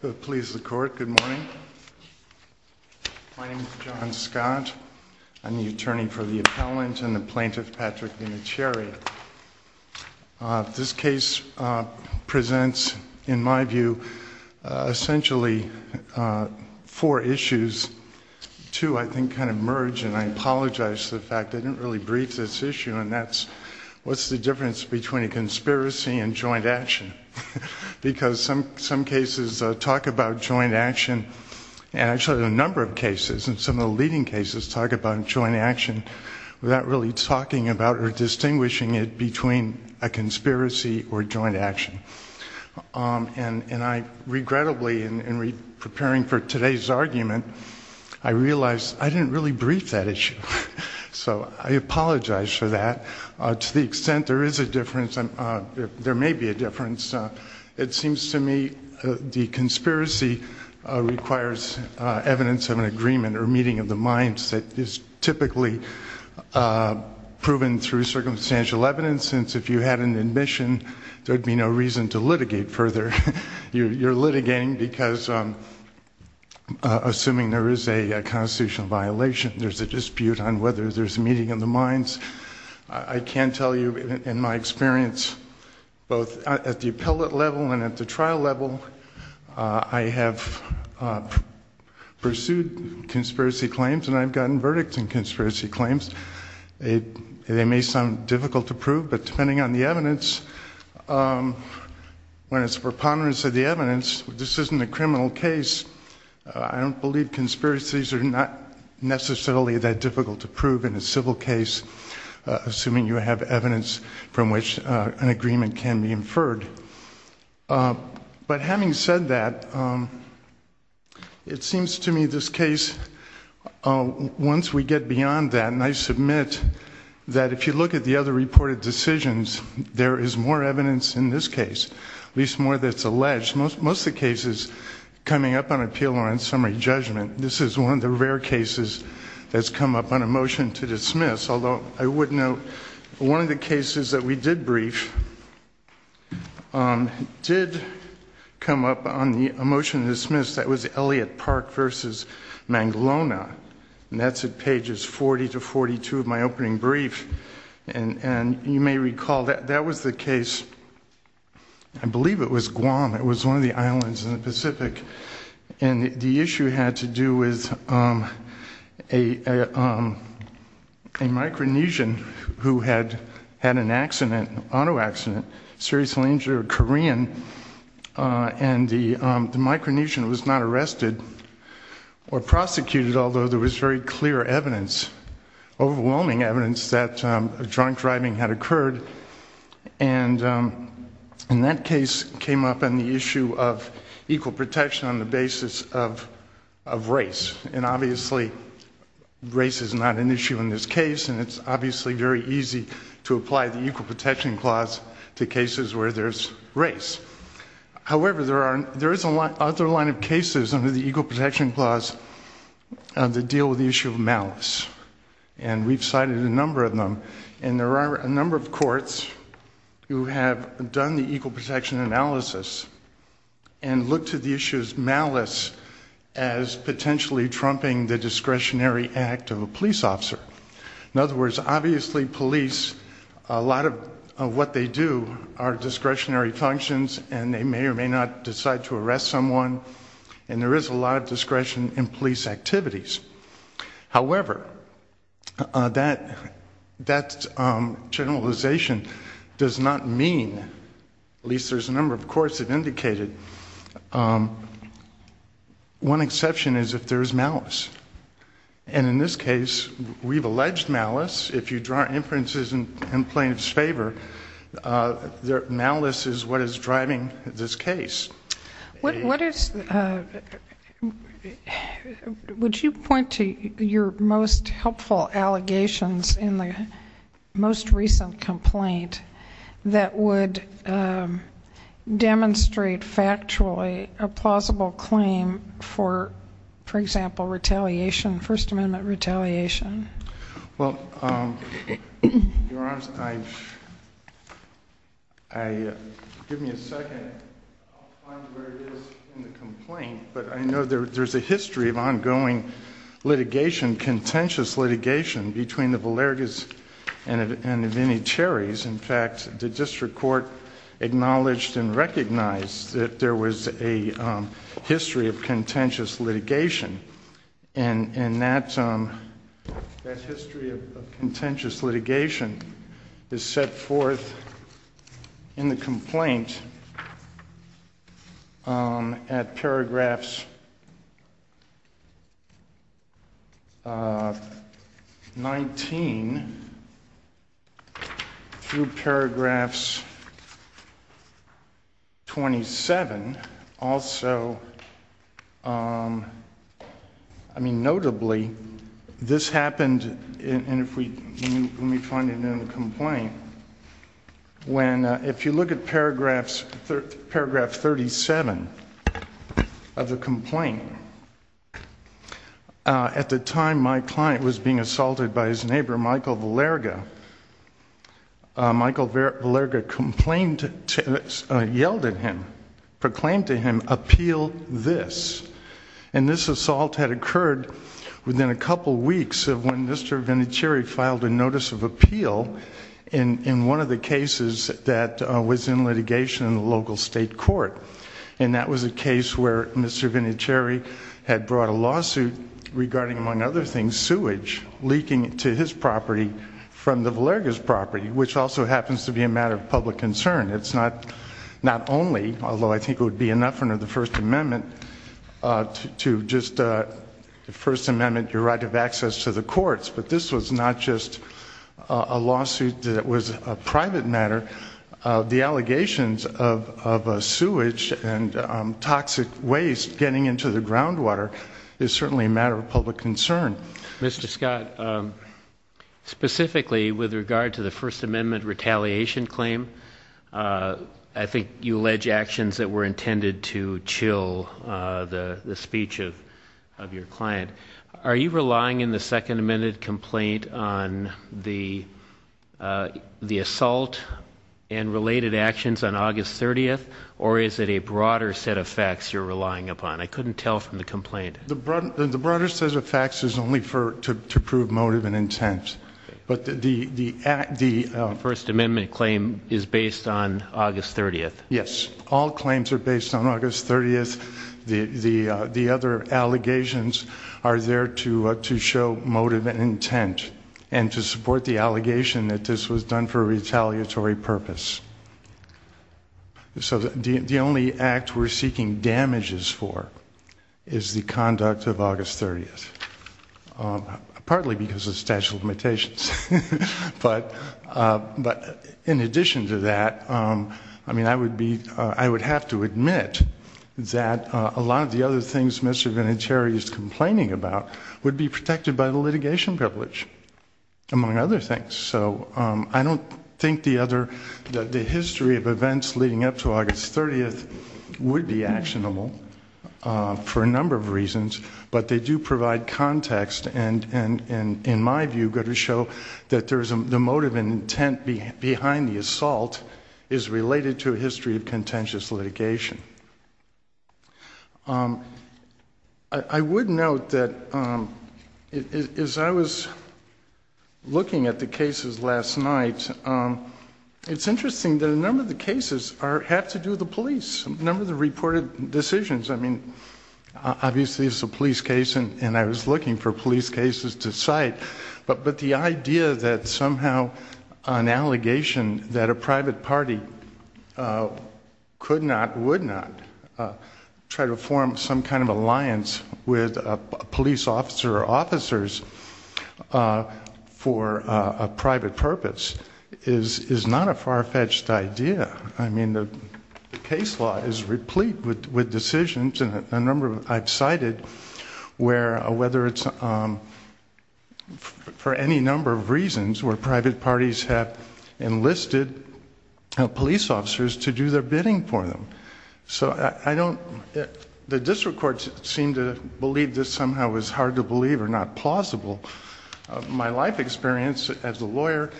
Good morning. My name is John Scott. I'm the attorney for the appellant and the plaintiff, Patrick Vinatieri. This case presents, in my view, essentially four issues to, I think, kind of merge. And I apologize for the fact I didn't really brief this issue on that. One is, what's the difference between a conspiracy and joint action? Because some cases talk about joint action, and actually a number of cases, and some of the leading cases talk about joint action without really talking about or distinguishing it between a conspiracy or joint action. And I regrettably, in preparing for today's argument, I realized I didn't really brief that issue. So I apologize for that. To the extent there is a difference, there may be a difference. It seems to me the conspiracy requires evidence of an agreement or meeting of the minds that is typically proven through circumstantial evidence, since if you had an admission, there would be no reason to litigate further. You're litigating because, assuming there is a constitutional violation, there's a dispute on whether there's a meeting of the minds. I can tell you, in my experience, both at the appellate level and at the trial level, I have pursued conspiracy claims, and I've gotten verdicts in conspiracy claims. They may sound difficult to prove, but depending on the evidence, when it's preponderance of the evidence, this isn't a criminal case, I don't believe conspiracies are not necessarily that difficult to prove in a civil case, assuming you have evidence from which an agreement can be inferred. But having said that, it seems to me this case, once we get beyond that, and I submit that if you look at the other reported decisions, there is more evidence in this case, at least more that's alleged. Most of the cases coming up on appeal are on summary judgment. This is one of the rare cases that's come up on a motion to dismiss, although I would note one of the cases that we did brief did come up on a motion to dismiss, that was Elliott Park v. Mangalona, and that's at pages 40 to 42 of my opening brief. And you may recall that that was the case, I believe it was Guam, it was one of the islands in the Pacific, and the issue had to do with a Micronesian who had had an accident, an auto accident, seriously injured a Korean, and the Micronesian was not arrested or prosecuted, although there was very clear evidence, overwhelming evidence, that drunk driving had occurred. And that case came up on the issue of equal protection on the basis of race, and obviously race is not an issue in this case, and it's obviously very easy to apply the Equal Protection Clause to cases where there's race. However, there is another line of cases under the Equal Protection Clause that deal with the issue of malice, and we've cited a number of them, and there are a number of courts who have done the equal protection analysis and looked at the issues of malice as potentially trumping the discretionary act of a police officer. In other words, obviously police, a lot of what they do are discretionary functions, and they may or may not decide to arrest someone, and there is a lot of discretion in police activities. However, that generalization does not mean, at least there's a number of courts that indicate it, one exception is if there is malice. And in this case, we've alleged malice. If you draw inferences in plaintiff's favor, malice is what is driving this case. What is the, would you point to your most helpful allegations in the most recent complaint that would demonstrate factually a plausible claim for, for example, retaliation, First Amendment retaliation? Well, Your Honor, I, give me a second. I'll find where it is in the complaint, but I know there's a history of ongoing litigation, contentious litigation between the Valergas and the Vinnie Cherries. In fact, the district court acknowledged and recognized that there was a history of contentious litigation, and that history of contentious litigation is set forth in the complaint at paragraphs 19 through paragraphs 27. And also, I mean notably, this happened, and if we, let me find it in the complaint. When, if you look at paragraphs, paragraph 37 of the complaint, at the time my client was being assaulted by his neighbor, Michael Valerga, Michael Valerga complained, yelled at him, proclaimed to him, appeal this. And this assault had occurred within a couple weeks of when Mr. Vinnie Cherrie filed a notice of appeal in one of the cases that was in litigation in the local state court. And that was a case where Mr. Vinnie Cherrie had brought a lawsuit regarding, among other things, leaking sewage, leaking to his property from the Valerga's property, which also happens to be a matter of public concern. It's not only, although I think it would be enough under the First Amendment, to just, the First Amendment, your right of access to the courts, but this was not just a lawsuit that was a private matter. The allegations of sewage and toxic waste getting into the groundwater is certainly a matter of public concern. Mr. Scott, specifically with regard to the First Amendment retaliation claim, I think you allege actions that were intended to chill the speech of your client. Are you relying in the Second Amendment complaint on the assault and related actions on August 30th? Or is it a broader set of facts you're relying upon? I couldn't tell from the complaint. The broader set of facts is only to prove motive and intent. The First Amendment claim is based on August 30th. Yes. All claims are based on August 30th. The other allegations are there to show motive and intent and to support the allegation that this was done for a retaliatory purpose. The only act we're seeking damages for is the conduct of August 30th. But in addition to that, I would have to admit that a lot of the other things Mr. Vinicieri is complaining about would be protected by the litigation privilege, among other things. I don't think the history of events leading up to August 30th would be actionable for a number of reasons, but they do provide context and, in my view, go to show that the motive and intent behind the assault is related to a history of contentious litigation. I would note that as I was looking at the cases last night, it's interesting that a number of the cases have to do with the police. A number of the reported decisions, I mean, obviously it's a police case, and I was looking for police cases to cite, but the idea that somehow an allegation that a private party could not, would not, try to form some kind of alliance with a police officer or officers for a private purpose is not a far-fetched idea. I mean, the case law is replete with decisions, and a number I've cited where, whether it's for any number of reasons, where private parties have enlisted police officers to do their bidding for them. So I don't, the district courts seem to believe this somehow is hard to believe or not plausible. My life experience as a lawyer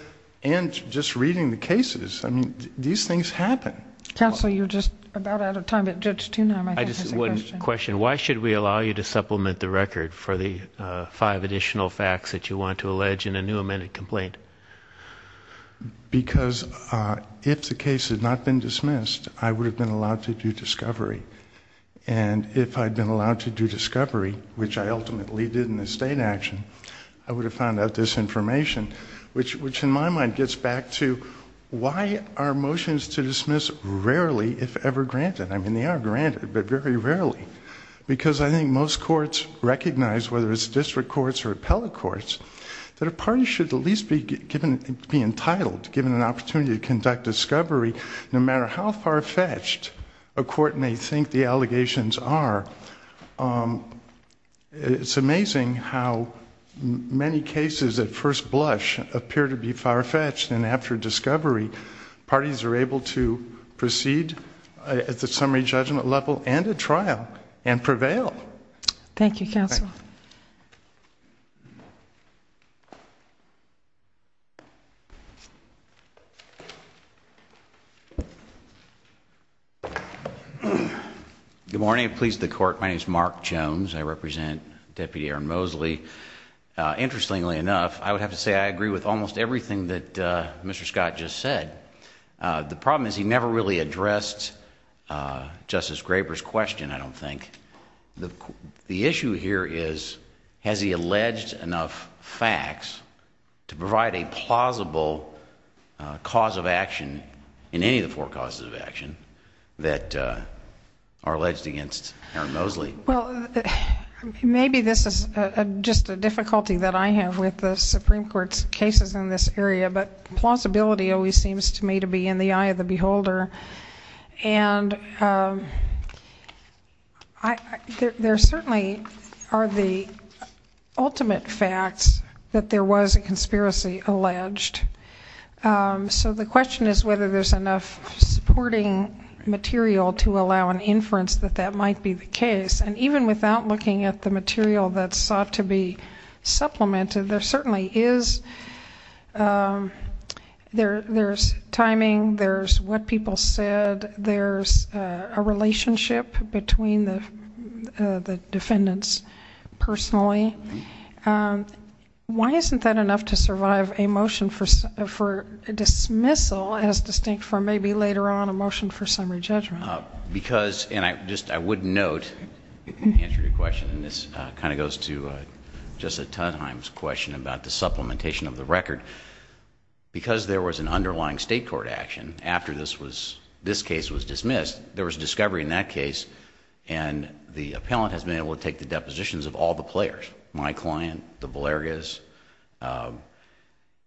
and just reading the cases, I mean, these things happen. Counsel, you're just about out of time, but Judge Tunheim, I have a question. I just have one question. Why should we allow you to supplement the record for the five additional facts that you want to allege in a new amended complaint? Because if the case had not been dismissed, I would have been allowed to do discovery, and if I'd been allowed to do discovery, which I ultimately did in the state action, I would have found out this information, which in my mind gets back to why are motions to dismiss rarely, if ever, granted? I mean, they are granted, but very rarely. Because I think most courts recognize, whether it's district courts or appellate courts, that a party should at least be entitled, given an opportunity to conduct discovery, no matter how far-fetched a court may think the allegations are. It's amazing how many cases at first blush appear to be far-fetched, and after discovery, parties are able to proceed at the summary judgment level and at trial and prevail. Thank you, Counsel. Good morning. Pleased to court. My name is Mark Jones. I represent Deputy Aaron Mosley. Interestingly enough, I would have to say I agree with almost everything that Mr. Scott just said. The problem is he never really addressed Justice Graber's question, I don't think. The issue here is, has he alleged enough facts to provide a plausible cause of action, in any of the four causes of action, that are alleged against Aaron Mosley? Well, maybe this is just a difficulty that I have with the Supreme Court's cases in this area, but plausibility always seems to me to be in the eye of the beholder. And there certainly are the ultimate facts that there was a conspiracy alleged. So the question is whether there's enough supporting material to allow an inference that that might be the case. And even without looking at the material that's sought to be supplemented, there certainly is. There's timing. There's what people said. There's a relationship between the defendants personally. Why isn't that enough to survive a motion for dismissal, as distinct from maybe later on a motion for summary judgment? I would note, to answer your question, and this kind of goes to Justice Tenheim's question about the supplementation of the record, because there was an underlying state court action after this case was dismissed, there was a discovery in that case, and the appellant has been able to take the depositions of all the players, my client, the Valergas.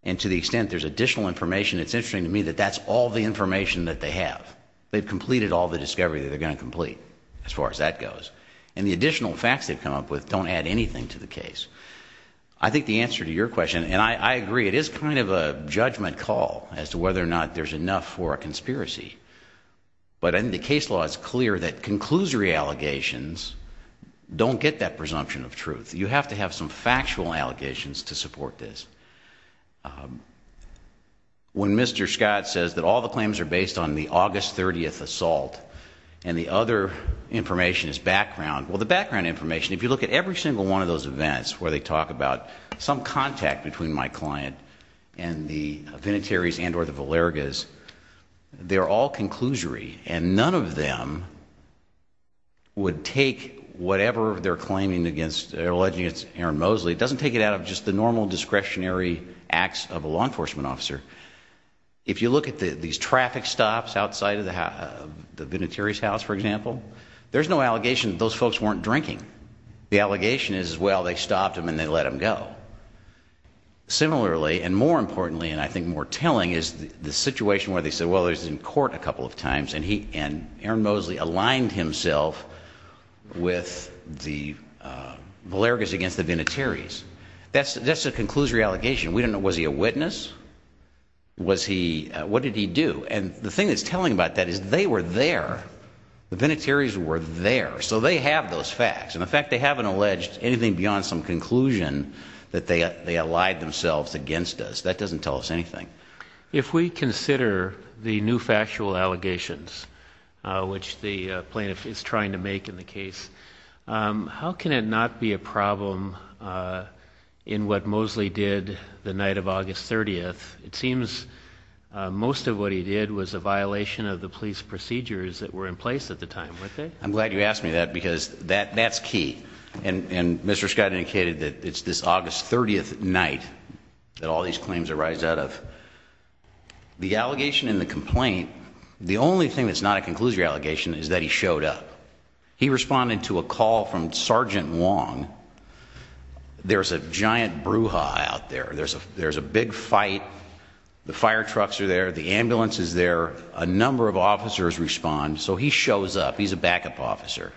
And to the extent there's additional information, it's interesting to me that that's all the information that they have. They've completed all the discovery that they're going to complete, as far as that goes. And the additional facts they've come up with don't add anything to the case. I think the answer to your question, and I agree, it is kind of a judgment call as to whether or not there's enough for a conspiracy. But in the case law, it's clear that conclusory allegations don't get that presumption of truth. You have to have some factual allegations to support this. When Mr. Scott says that all the claims are based on the August 30th assault and the other information is background, well, the background information, if you look at every single one of those events where they talk about some contact between my client and the Vinatieri's and or the Valerga's, they're all conclusory, and none of them would take whatever they're claiming against, it doesn't take it out of just the normal discretionary acts of a law enforcement officer. If you look at these traffic stops outside of the Vinatieri's house, for example, there's no allegation that those folks weren't drinking. The allegation is, well, they stopped them and they let them go. Similarly, and more importantly, and I think more telling, is the situation where they said, well, he was in court a couple of times and Aaron Mosley aligned himself with the Valerga's against the Vinatieri's. That's a conclusory allegation. We don't know, was he a witness? What did he do? And the thing that's telling about that is they were there. The Vinatieri's were there. So they have those facts, and the fact they haven't alleged anything beyond some conclusion that they allied themselves against us, that doesn't tell us anything. If we consider the new factual allegations, which the plaintiff is trying to make in the case, how can it not be a problem in what Mosley did the night of August 30th? It seems most of what he did was a violation of the police procedures that were in place at the time. I'm glad you asked me that because that's key. And Mr. Scott indicated that it's this August 30th night that all these claims arise out of. The allegation in the complaint, the only thing that's not a conclusory allegation is that he showed up. He responded to a call from Sergeant Wong. There's a giant brouhaha out there. There's a big fight. The fire trucks are there. The ambulance is there. A number of officers respond. So he shows up. He's a backup officer.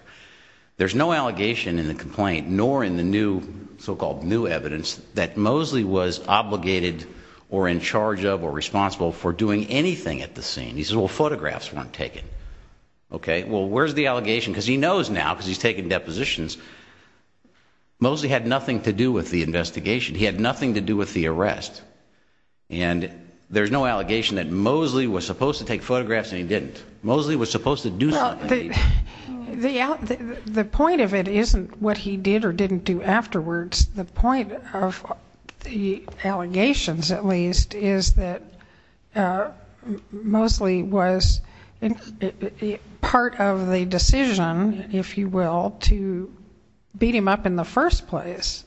There's no allegation in the complaint nor in the so-called new evidence that Mosley was obligated or in charge of or responsible for doing anything at the scene. He says, well, photographs weren't taken. Okay, well, where's the allegation? Because he knows now because he's taken depositions. Mosley had nothing to do with the investigation. He had nothing to do with the arrest. And there's no allegation that Mosley was supposed to take photographs and he didn't. Mosley was supposed to do something. The point of it isn't what he did or didn't do afterwards. The point of the allegations, at least, is that Mosley was part of the decision, if you will, to beat him up in the first place.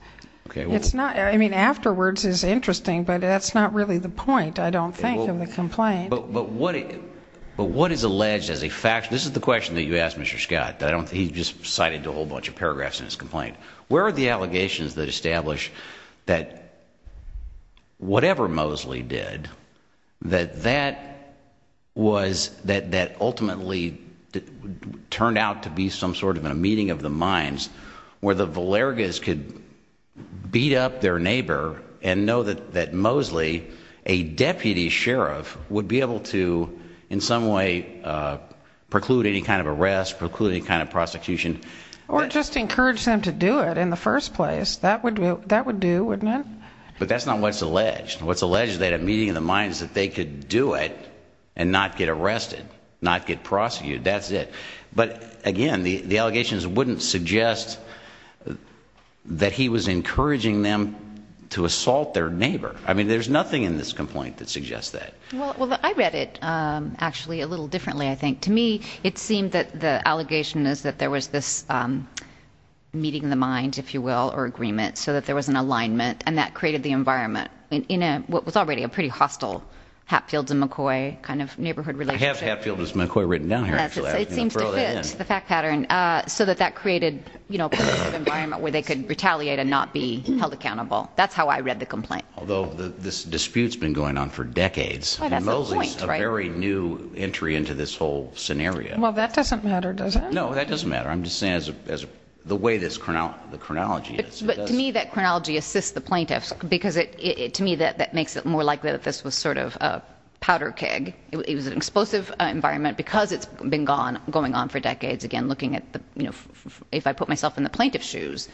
I mean, afterwards is interesting, but that's not really the point, I don't think, of the complaint. But what is alleged as a fact, this is the question that you asked Mr. Scott. He just cited a whole bunch of paragraphs in his complaint. Where are the allegations that establish that whatever Mosley did, that that ultimately turned out to be some sort of a meeting of the minds where the Valergas could beat up their neighbor and know that Mosley, a deputy sheriff, would be able to, in some way, preclude any kind of arrest, preclude any kind of prosecution. Or just encourage them to do it in the first place. That would do, wouldn't it? But that's not what's alleged. What's alleged is that a meeting of the minds that they could do it and not get arrested, not get prosecuted, that's it. But, again, the allegations wouldn't suggest that he was encouraging them to assault their neighbor. I mean, there's nothing in this complaint that suggests that. Well, I read it, actually, a little differently, I think. To me, it seemed that the allegation is that there was this meeting of the minds, if you will, or agreement, so that there was an alignment and that created the environment in what was already a pretty hostile Hatfields and McCoy kind of neighborhood relationship. I have Hatfields and McCoy written down here, actually. It seems to fit the fact pattern so that that created, you know, a kind of environment where they could retaliate and not be held accountable. That's how I read the complaint. Although this dispute's been going on for decades. Mosley's a very new entry into this whole scenario. Well, that doesn't matter, does it? No, that doesn't matter. I'm just saying the way the chronology is. But to me, that chronology assists the plaintiffs because, to me, that makes it more likely that this was sort of a powder keg. It was an explosive environment because it's been going on for decades, again, looking at, you know, if I put myself in the plaintiff's shoes.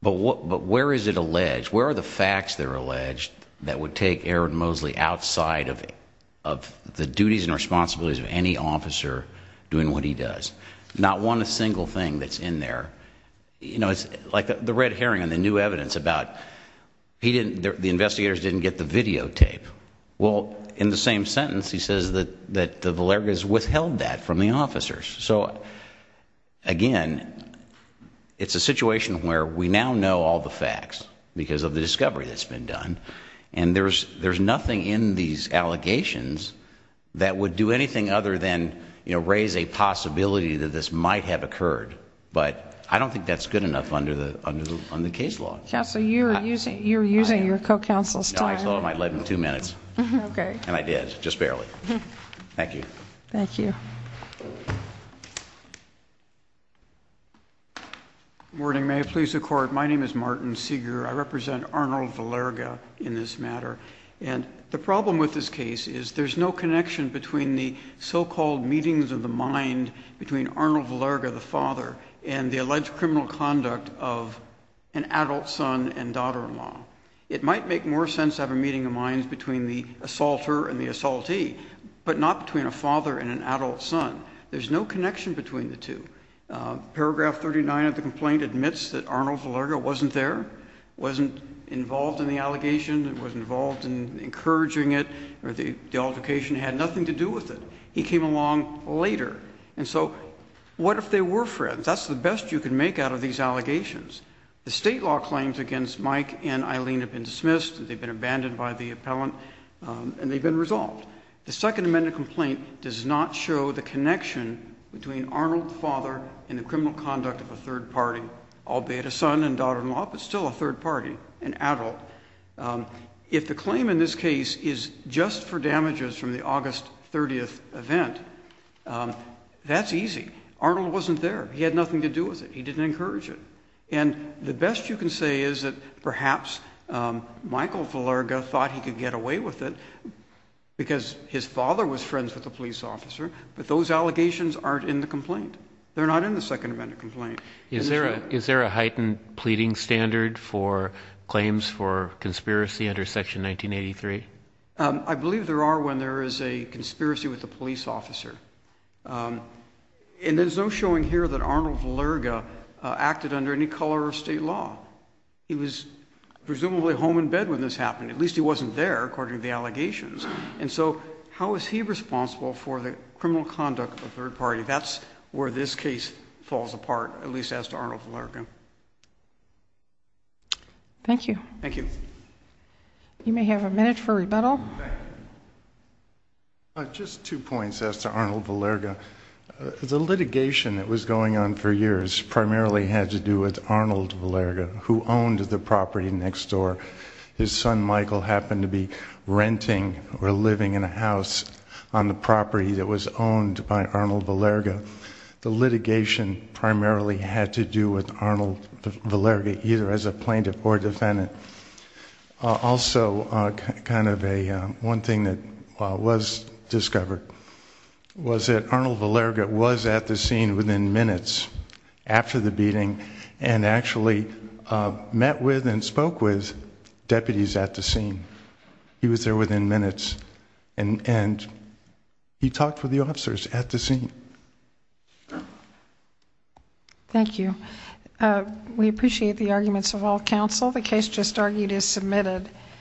But where is it alleged? Where are the facts that are alleged that would take Aaron Mosley outside of the duties and responsibilities of any officer doing what he does? Not one single thing that's in there. You know, it's like the red herring on the new evidence about the investigators didn't get the videotape. Well, in the same sentence, he says that the Valergas withheld that from the officers. So, again, it's a situation where we now know all the facts because of the discovery that's been done. And there's nothing in these allegations that would do anything other than, you know, raise a possibility that this might have occurred. But I don't think that's good enough under the case law. Counsel, you're using your co-counsel's time. I thought I might let him two minutes. Okay. And I did, just barely. Thank you. Thank you. Good morning. May it please the Court. My name is Martin Seeger. I represent Arnold Valerga in this matter. And the problem with this case is there's no connection between the so-called meetings of the mind between Arnold Valerga, the father, and the alleged criminal conduct of an adult son and daughter-in-law. It might make more sense to have a meeting of minds between the assaulter and the assaultee, but not between a father and an adult son. There's no connection between the two. Paragraph 39 of the complaint admits that Arnold Valerga wasn't there, wasn't involved in the allegation, wasn't involved in encouraging it, or the altercation had nothing to do with it. He came along later. And so what if they were friends? That's the best you can make out of these allegations. The state law claims against Mike and Eileen have been dismissed, they've been abandoned by the appellant, and they've been resolved. The Second Amendment complaint does not show the connection between Arnold, the father, and the criminal conduct of a third party, albeit a son and daughter-in-law but still a third party, an adult. If the claim in this case is just for damages from the August 30th event, that's easy. Arnold wasn't there. He had nothing to do with it. He didn't encourage it. And the best you can say is that perhaps Michael Valerga thought he could get away with it because his father was friends with a police officer, but those allegations aren't in the complaint. They're not in the Second Amendment complaint. Is there a heightened pleading standard for claims for conspiracy under Section 1983? I believe there are when there is a conspiracy with a police officer. And there's no showing here that Arnold Valerga acted under any color of state law. He was presumably home in bed when this happened. At least he wasn't there, according to the allegations. And so how is he responsible for the criminal conduct of a third party? That's where this case falls apart, at least as to Arnold Valerga. Thank you. You may have a minute for rebuttal. Just two points as to Arnold Valerga. The litigation that was going on for years primarily had to do with Arnold Valerga, who owned the property next door. His son Michael happened to be renting or living in a house on the property that was owned by Arnold Valerga. The litigation primarily had to do with Arnold Valerga, either as a plaintiff or defendant. Also, one thing that was discovered was that Arnold Valerga was at the scene within minutes after the beating and actually met with and spoke with deputies at the scene. He was there within minutes. And he talked with the officers at the scene. Thank you. We appreciate the arguments of all counsel. The case just argued is submitted.